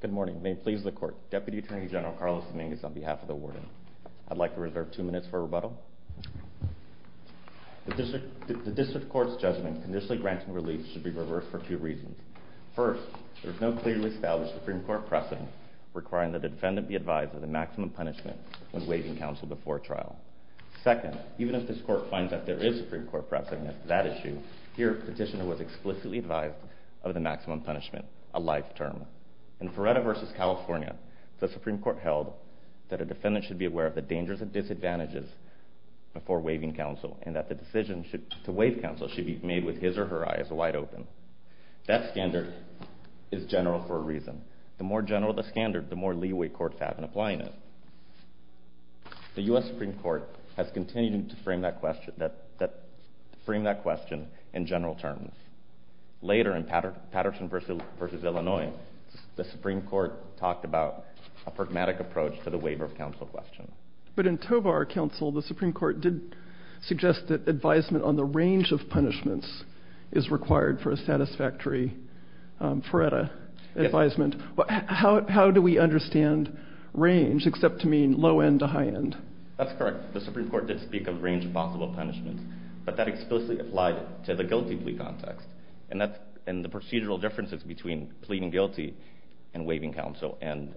Good morning. May it please the court. Deputy Attorney General Carlos Dominguez on behalf of the warden. I'd like to reserve two minutes for rebuttal. The district court's judgment conditionally granting relief should be reversed for two reasons. First, there's no clearly established Supreme Court precedent requiring the defendant be advised of the maximum punishment when waiving counsel before trial. Second, even if this court finds that there is Supreme Court precedent requiring the defendant be advised of the maximum punishment a life term. In Ferretta v. California, the Supreme Court held that a defendant should be aware of the dangers and disadvantages before waiving counsel and that the decision to waive counsel should be made with his or her eyes wide open. That standard is general for a reason. The more general the standard, the more leeway courts have in applying it. The U.S. Supreme Court has continued to frame that question in general terms. Later in Patterson v. Illinois, the Supreme Court talked about a pragmatic approach to the waiver of counsel question. But in Tovar counsel, the Supreme Court did suggest that advisement on the range of punishments is required for a satisfactory Ferretta advisement. How do we understand range, except to mean low end to high end? That's correct. The Supreme Court did speak of range of possible punishments, but that explicitly applied to the guilty plea context. And the procedural differences between pleading guilty and waiving counsel and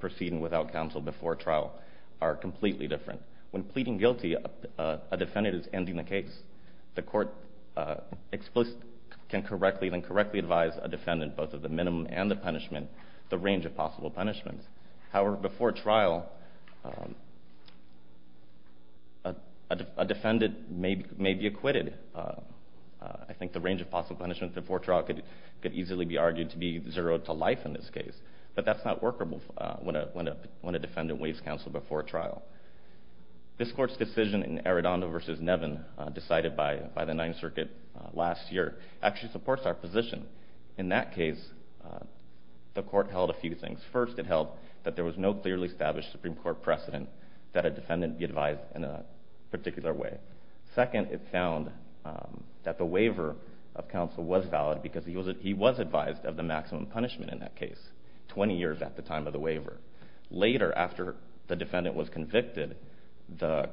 proceeding without counsel before trial are completely different. When pleading guilty, a defendant is ending the case. The court explicitly can correctly and incorrectly advise a defendant both of the minimum and the range of possible punishments. However, before trial, a defendant may be acquitted. I think the range of possible punishments before trial could easily be argued to be zero to life in this case. But that's not workable when a defendant waives counsel before trial. This court's decision in Arredondo v. Nevin, decided by the Ninth Circuit last year, actually supports our position. In that case, the court held a few things. First, it held that there was no clearly established Supreme Court precedent that a defendant be advised in a particular way. Second, it found that the waiver of counsel was valid because he was advised of the maximum punishment in that case, 20 years at the time of the waiver. Later, after the defendant was convicted, the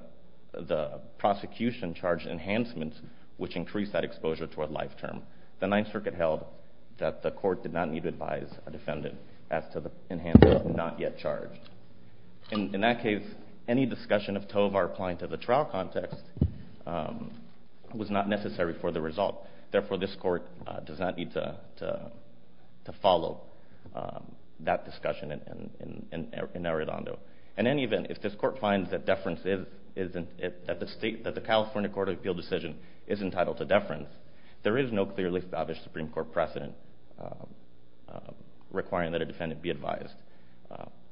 prosecution charged enhancements, which increased that exposure to a life term. The Ninth Circuit held that the court did not need to advise a defendant as to enhancements not yet charged. In that case, any discussion of Tovar applying to the trial context was not necessary for the result. Therefore, this court does not need to follow that discussion in Arredondo. In any event, if this court finds that the California Court of Appeal decision is entitled to deference, there is no clearly established Supreme Court precedent requiring that a defendant be advised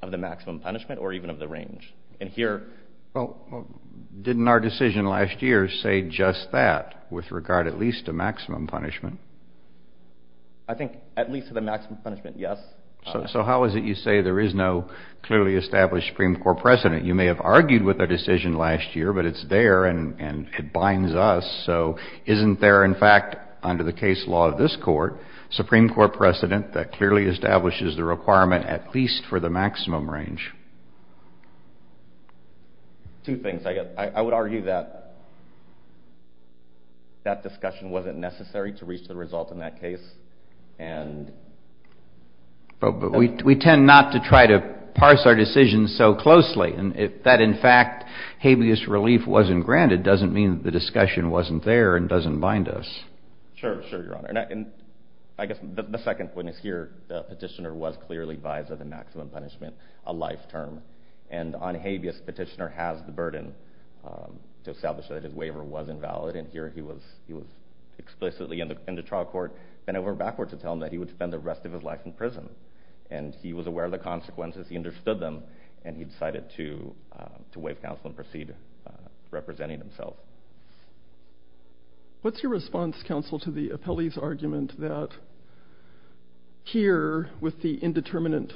of the maximum punishment or even of the range. And here... Well, didn't our decision last year say just that, with regard at least to maximum punishment? I think at least to the maximum punishment, yes. So how is it you say there is no clearly established Supreme Court precedent? You may have argued with a decision last year, but it's there and it binds us. So isn't there, in fact, under the case law of this court, Supreme Court precedent that clearly establishes the requirement at least for the maximum range? Two things. I would argue that that discussion wasn't necessary to reach the result in that case. But we tend not to try to parse our decisions so closely. And if that, in fact, habeas relief wasn't granted, doesn't mean that the discussion wasn't there and doesn't bind us. Sure, Your Honor. And I guess the second point is here, the petitioner was clearly advised of the maximum punishment a life term. And on habeas, the petitioner has the burden to establish that his waiver was invalid. And here he was explicitly in the trial court, then it went backwards to tell him that he would spend the rest of his life in prison. And he was aware of the consequences, he understood them, and he decided to waive counsel and proceed representing himself. What's your response, counsel, to the appellee's argument that here, with the indeterminate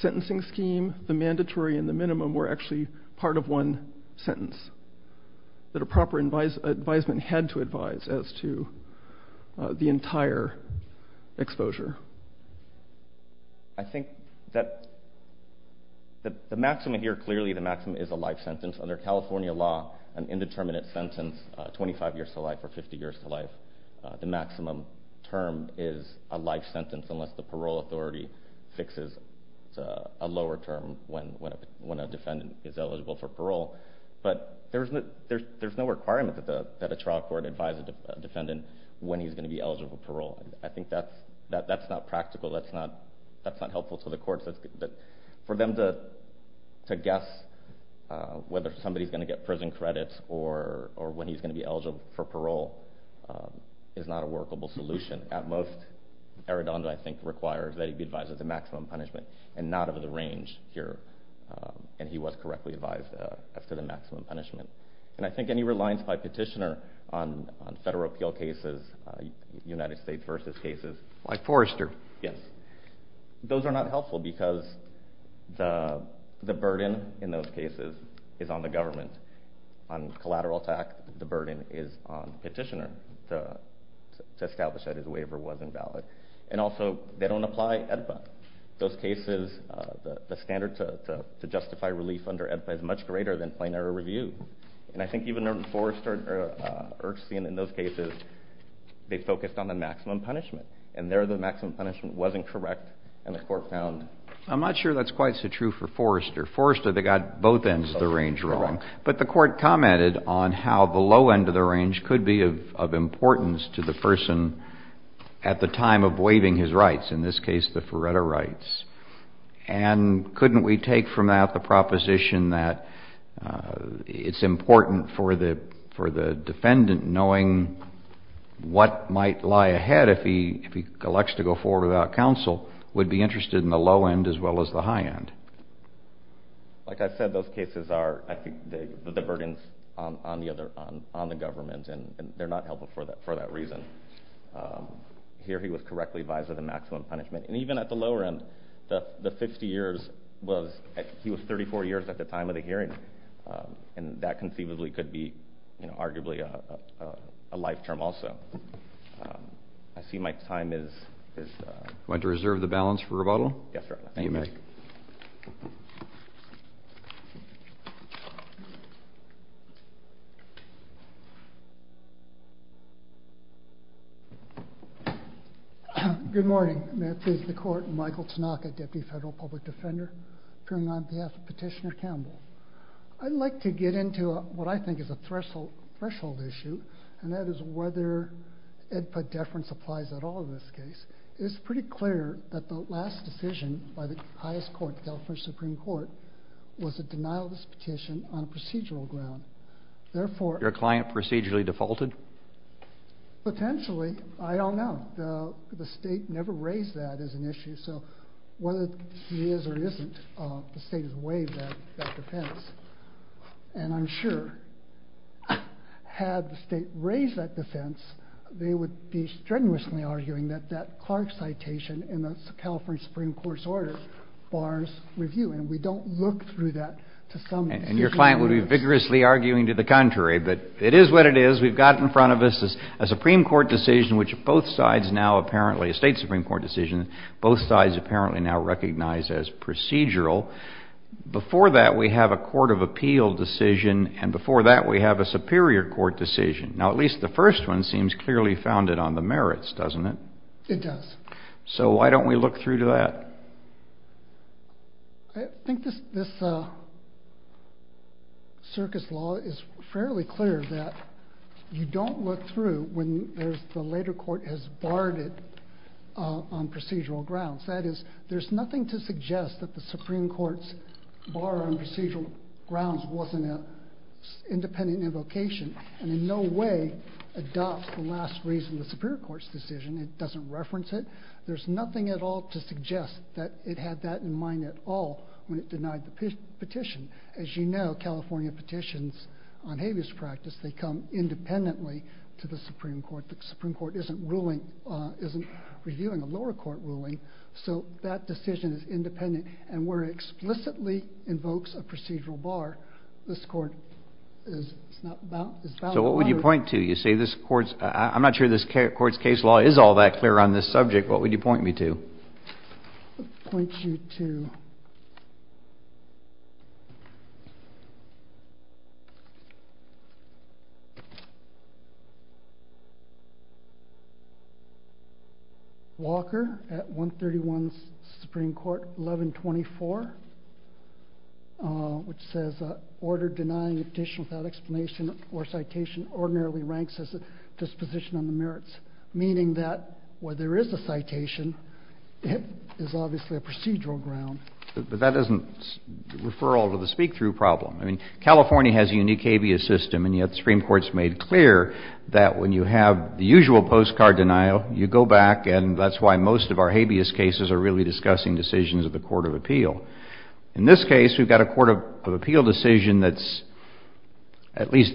sentencing scheme, the mandatory and the minimum were actually part of one sentence that a proper advisement had to advise as to the entire exposure? I think that the maximum here, clearly the maximum is a life sentence. Under California law, an indeterminate sentence, 25 years to life or 50 years to life, the maximum term is a life for parole. But there's no requirement that a trial court advise a defendant when he's going to be eligible for parole. I think that's not practical, that's not helpful to the courts. For them to guess whether somebody's going to get prison credits or when he's going to be eligible for parole is not a workable solution. At most, Arradondo, I think, requires that he be advised of the maximum punishment and not of the range here. And he was correctly advised as to the maximum punishment. And I think any reliance by petitioner on federal appeal cases, United States versus cases... Like Forrester. Yes. Those are not helpful because the burden in those cases is on the government. On collateral tax, the burden is on the petitioner to establish that the waiver wasn't valid. And also, they don't apply EDPA. Those cases, the standard to justify relief under EDPA is much greater than plain error review. And I think even Forrester or Erkstein in those cases, they focused on the maximum punishment. And there, the maximum punishment wasn't correct and the court found... I'm not sure that's quite so true for Forrester. Forrester, they got both ends of the range wrong. But the court commented on how the low end of the range could be of importance to the person at the time of waiving his rights. In this case, the Feretta rights. And couldn't we take from that the proposition that it's important for the defendant knowing what might lie ahead if he elects to go forward without counsel, would be interested in the low end as well as the high end? Like I said, those cases are, I think, the burdens on the government and they're not helpful for that reason. Here, he was correctly advised of the maximum punishment. And even at the lower end, the 50 years was... He was 34 years at the time of the hearing. And that conceivably could be arguably a life term also. I see my time is... Good morning. May I please the court. Michael Tanaka, Deputy Federal Public Defender, appearing on behalf of Petitioner Campbell. I'd like to get into what I think is a threshold issue, and that is whether it put deference applies at all in this case. It's pretty clear that the last decision by the highest court, the California Supreme Court, was a denial of this petition on a procedural ground. Therefore... Your client procedurally defends the Supreme Court defaulted? Potentially. I don't know. The state never raised that as an issue. So whether he is or isn't, the state has waived that defense. And I'm sure had the state raised that defense, they would be strenuously arguing that that Clark citation in the California Supreme Court's order bars review. And we don't look through that to some... And your client would be vigorously arguing to the contrary. But it is what it is. We've got in front of us a Supreme Court decision which both sides now apparently, a state Supreme Court decision, both sides apparently now recognize as procedural. Before that we have a court of appeal decision, and before that we have a superior court decision. Now at least the first one seems clearly founded on the merits, doesn't it? It does. So why don't we look through to that? I think this circus law is fairly clear that you don't look through when the later court has barred it on procedural grounds. That is, there's nothing to suggest that the Supreme Court's bar on procedural grounds wasn't an independent invocation and in no way adopts the last reason the superior court's decision. It doesn't reference it. There's nothing at all to suggest that it had that in mind at all when it denied the petition. As you know, California petitions on habeas practice, they come independently to the Supreme Court. The Supreme Court isn't reviewing a lower court ruling, so that decision is independent. And where it explicitly invokes a procedural bar, this court is not bound... So what would you point to? You say this court's... I'm not sure this court's case law is all that clear on this subject. What would you point me to? I'd point you to Walker at 131 Supreme Court 1124, which says order denying a petition without explanation or citation ordinarily ranks as a disposition on the merits, meaning that where there is a citation, it is obviously a procedural ground. But that doesn't refer all to the speak through problem. I mean, California has a unique habeas system and yet the Supreme Court's made clear that when you have the usual postcard denial, you go back and that's why most of our habeas cases are really discussing decisions of the court of appeal. In this case, we've got a court of appeal decision that's at least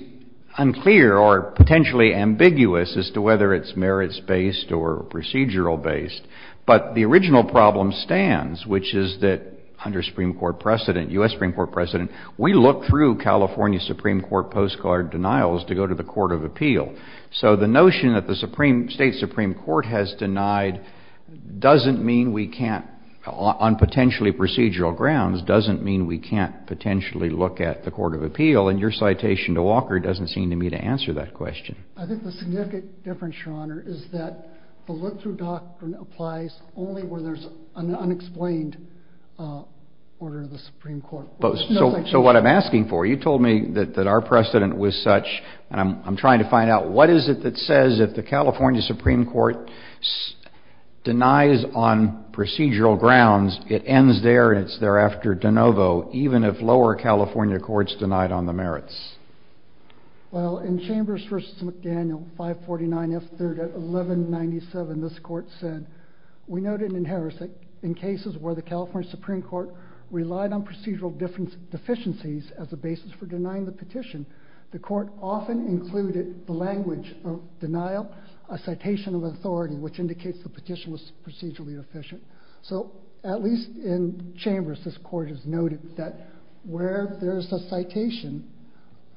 unclear or potentially ambiguous as to whether it's merits-based or procedural-based. But the original problem stands, which is that under Supreme Court precedent, U.S. Supreme Court precedent, we look through California Supreme Court postcard denials to go to the court of appeal. So the notion that the state Supreme Court has denied doesn't mean we can't, on potentially procedural grounds, doesn't mean we can't potentially look at the court of appeal. And your citation to Walker doesn't seem to me to answer that question. I think the look-through doctrine applies only when there's an unexplained order of the Supreme Court. So what I'm asking for, you told me that our precedent was such, and I'm trying to find out, what is it that says if the California Supreme Court denies on procedural grounds, it ends there and it's thereafter de novo, even if lower California courts denied on the merits? Well, in Chambers v. McDaniel, 549 F. 3rd at 1197, this court said, we noted in Harris that in cases where the California Supreme Court relied on procedural deficiencies as a basis for denying the petition, the court often included the language of denial, a citation of authority, which indicates the petition was procedurally deficient. So at least in Chambers, this court has noted that where there's a citation,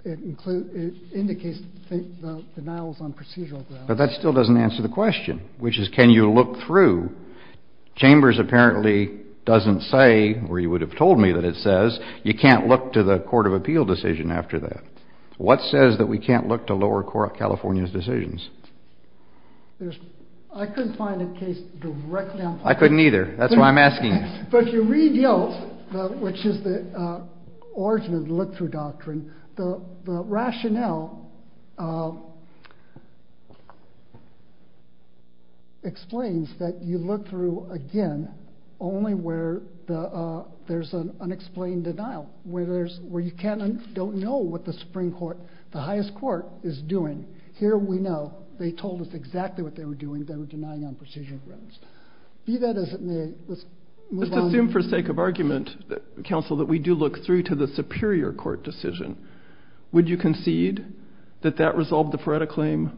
it includes, it indicates the denial was on procedural grounds. But that still doesn't answer the question, which is, can you look through? Chambers apparently doesn't say, or you would have told me that it says, you can't look to the court of appeal decision after that. What says that we can't look to lower California's decisions? I couldn't find a case directly on that. I couldn't either. That's why I'm asking. But you read Yilt, which is the origin of the look-through doctrine, the rationale explains that you look through, again, only where there's an unexplained denial, where you don't know what the Supreme Court, the highest court is doing. Here we know, they told us exactly what they were doing, they were denying on procedural grounds. Be that as it may, let's move on. Let's assume for sake of argument, counsel, that we do look through to the superior court decision. Would you concede that that resolved the Feretta claim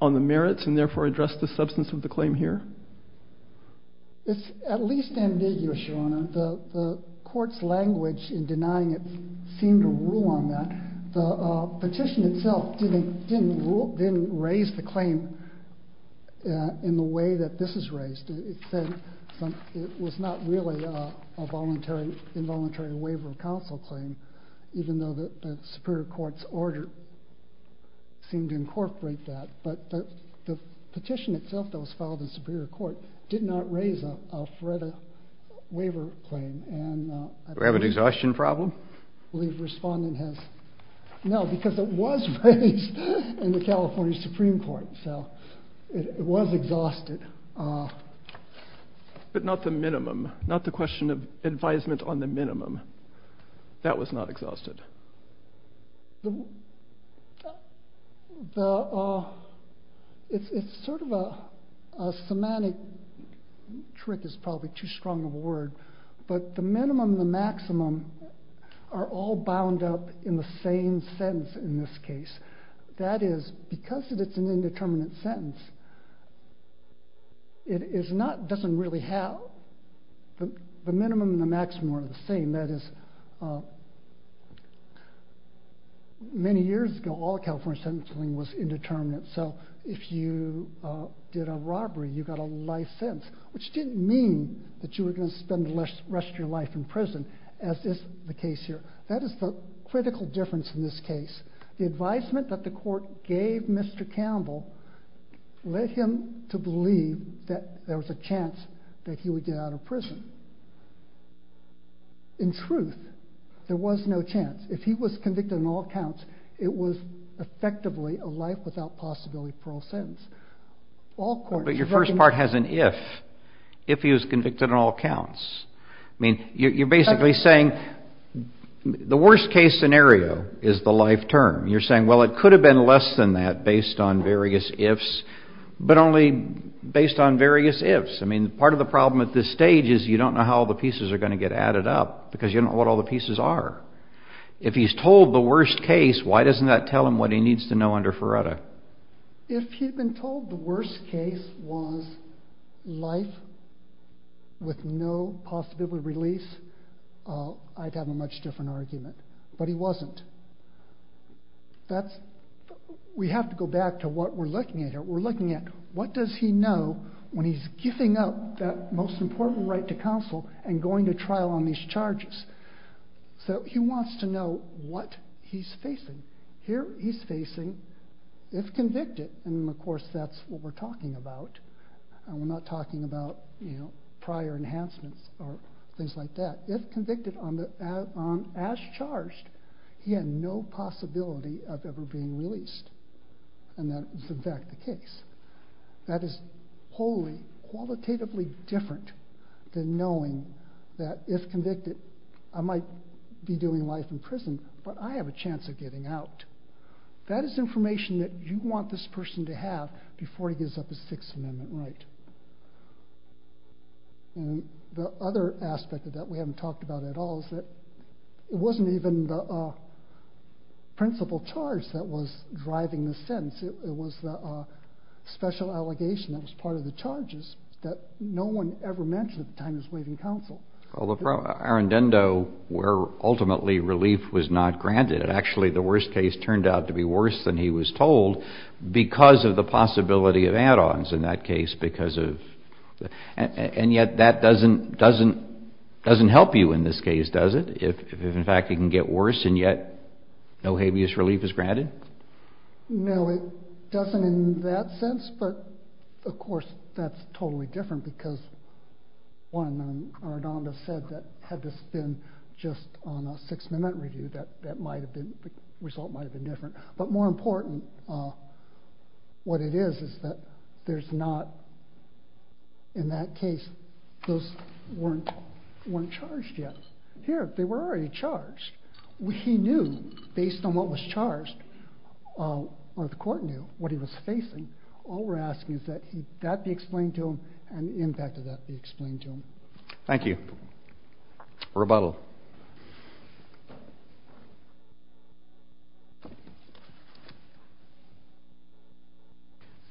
on the merits and therefore addressed the substance of the claim here? It's at least ambiguous, Your Honor. The court's language in denying it seemed to rule on that. The petition itself didn't raise the claim in the way that this is raised. It said it was not really a involuntary waiver of counsel claim, even though the superior court's order seemed to incorporate that. But the petition itself that was filed in superior court did not raise a Feretta waiver claim. Do we have an exhaustion problem? I believe the respondent has. No, because it was raised in the California Supreme Court, so it was exhausted. But not the minimum, not the question of advisement on the minimum. That was not exhausted. It's sort of a semantic trick is probably too strong a word, but the minimum, the maximum are all bound up in the same sentence in this case. That is, because it's an indeterminate sentence, it doesn't really have the minimum and the maximum are the same. That is, many years ago, all California sentencing was indeterminate. So if you did a robbery, you got a life sentence, which didn't mean that you were going to spend the rest of your life in here. That is the critical difference in this case. The advisement that the court gave Mr. Campbell led him to believe that there was a chance that he would get out of prison. In truth, there was no chance. If he was convicted on all counts, it was effectively a life without possibility parole sentence. But your first part has an if. If he was convicted on all counts, I mean, you're basically saying the worst case scenario is the life term. You're saying, well, it could have been less than that based on various ifs, but only based on various ifs. I mean, part of the problem at this stage is you don't know how the pieces are going to get added up because you don't know what all the pieces are. If he's told the worst case, why doesn't that tell him what he needs to know under Faretta? If he'd been told the worst case was life with no possibility of release, I'd have a much different argument. But he wasn't. We have to go back to what we're looking at here. We're looking at what does he know when he's giving up that most important right to counsel and going to trial on these charges. So he wants to know what he's facing. Here he's facing if convicted, and of course that's what we're not talking about prior enhancements or things like that. If convicted as charged, he had no possibility of ever being released, and that is in fact the case. That is wholly, qualitatively different than knowing that if convicted, I might be doing life in prison, but I have a chance of getting out. That is information that you want this person to have before he gives up his Sixth Amendment right. And the other aspect of that we haven't talked about at all is that it wasn't even the principal charge that was driving the sentence. It was the special allegation that was part of the charges that no one ever mentioned at the time he was waiving counsel. Well, our indendo, where ultimately relief was not granted, actually the worst case turned out to be worse than he was told because of the possibility of add-ons in that case. And yet that doesn't help you in this case, does it? If in fact it can get worse and yet no habeas relief is granted? No, it doesn't in that sense, but of course that's totally different because one, our indendo said that had this been just on a Sixth Amendment review, that might have been, the result might have been different. But more important, what it is, is that there's not, in that case, those weren't charged yet. Here, they were already charged. He knew, based on what was charged, or the court knew, what he was facing. All we're asking is that that be explained to him and the impact of that be explained to him. Thank you. Rebuttal.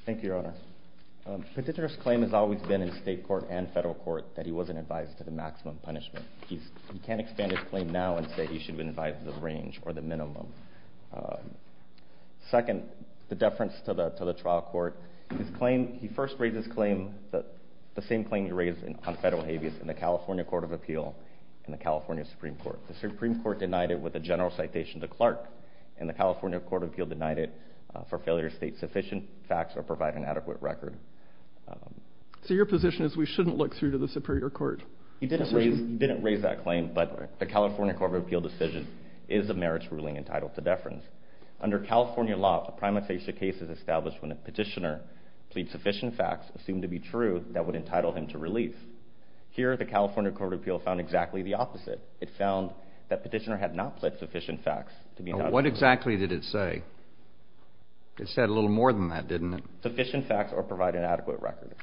Thank you, Your Honor. Petitioner's claim has always been in state court and federal court that he wasn't advised to the maximum punishment. He can't expand his claim now and say he should have been advised the range or the minimum. Second, the deference to the trial court, he first raised his claim, the same claim he raised on federal habeas in the California Court of Appeal and the California Supreme Court. The Supreme Court denied it with a general citation to Clark and the California Court of Appeal denied it for failure to state sufficient facts or provide an adequate record. So your position is we shouldn't look through to the Superior Court? He didn't raise that claim, but the California Court of Appeal decision is a merits ruling entitled to deference. Under California law, a primatization case is established when a petitioner pleads sufficient facts assumed to be true that would entitle him to relief. Here, the California Court of Appeal found exactly the opposite. It found that petitioner had not pledged sufficient facts. What exactly did it say? It said a little more than that, didn't it? Sufficient facts or provide an adequate record.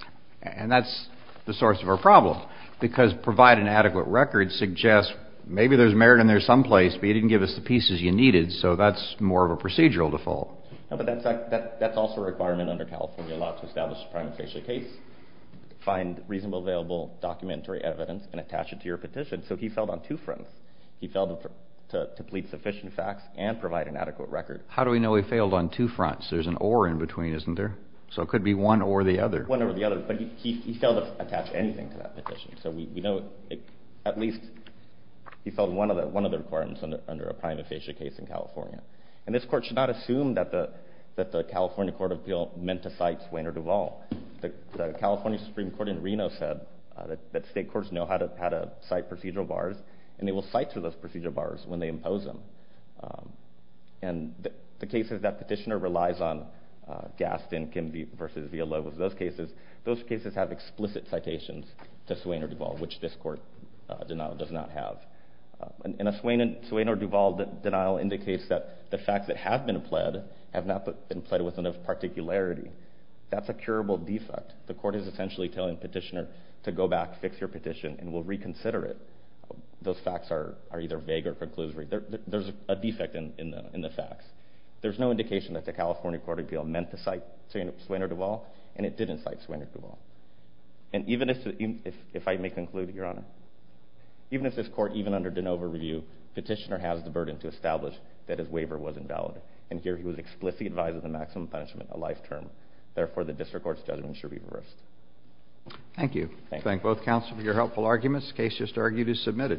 And that's the source of our problem because provide an adequate record suggests maybe there's merit in there someplace, but you didn't give us the pieces you needed. So that's more of a procedural default. But that's also a requirement under California law to establish a primatization case, find reasonable available documentary evidence, and attach it to your petition. So he failed on two fronts. He failed to plead sufficient facts and provide an adequate record. How do we know he failed on two fronts? There's an or in between, isn't there? So it could be one or the other. One or the other, but he failed to attach anything to that petition. So we know at least he failed one of the requirements under a primatization case in California. This court should not assume that the California Court of Appeal meant to cite Swain or Duvall. The California Supreme Court in Reno said that state courts know how to cite procedural bars, and they will cite to those procedural bars when they impose them. And the cases that petitioner relies on, Gaston, Kimby versus Villalobos, those cases have explicit citations to Swain or Duvall, which this court denial does not have. In a Swain or Duvall denial indicates that the facts that have been pled have not been pled with enough particularity. That's a curable defect. The court is essentially telling petitioner to go back, fix your petition, and we'll reconsider it. Those facts are either vague or conclusive. There's a defect in the facts. There's no indication that the California Court of Appeal meant to cite Swain or Duvall, and it didn't cite Swain or Duvall. And even if I may conclude, Your Honor, even if this court, even under DeNova review, petitioner has the burden to establish that his waiver was invalid, and here he was explicitly advised of the maximum punishment, a life term. Therefore, the district court's judgment should be reversed. Thank you. Thank you. Thank both counsel for your helpful arguments. Case just argued is submitted.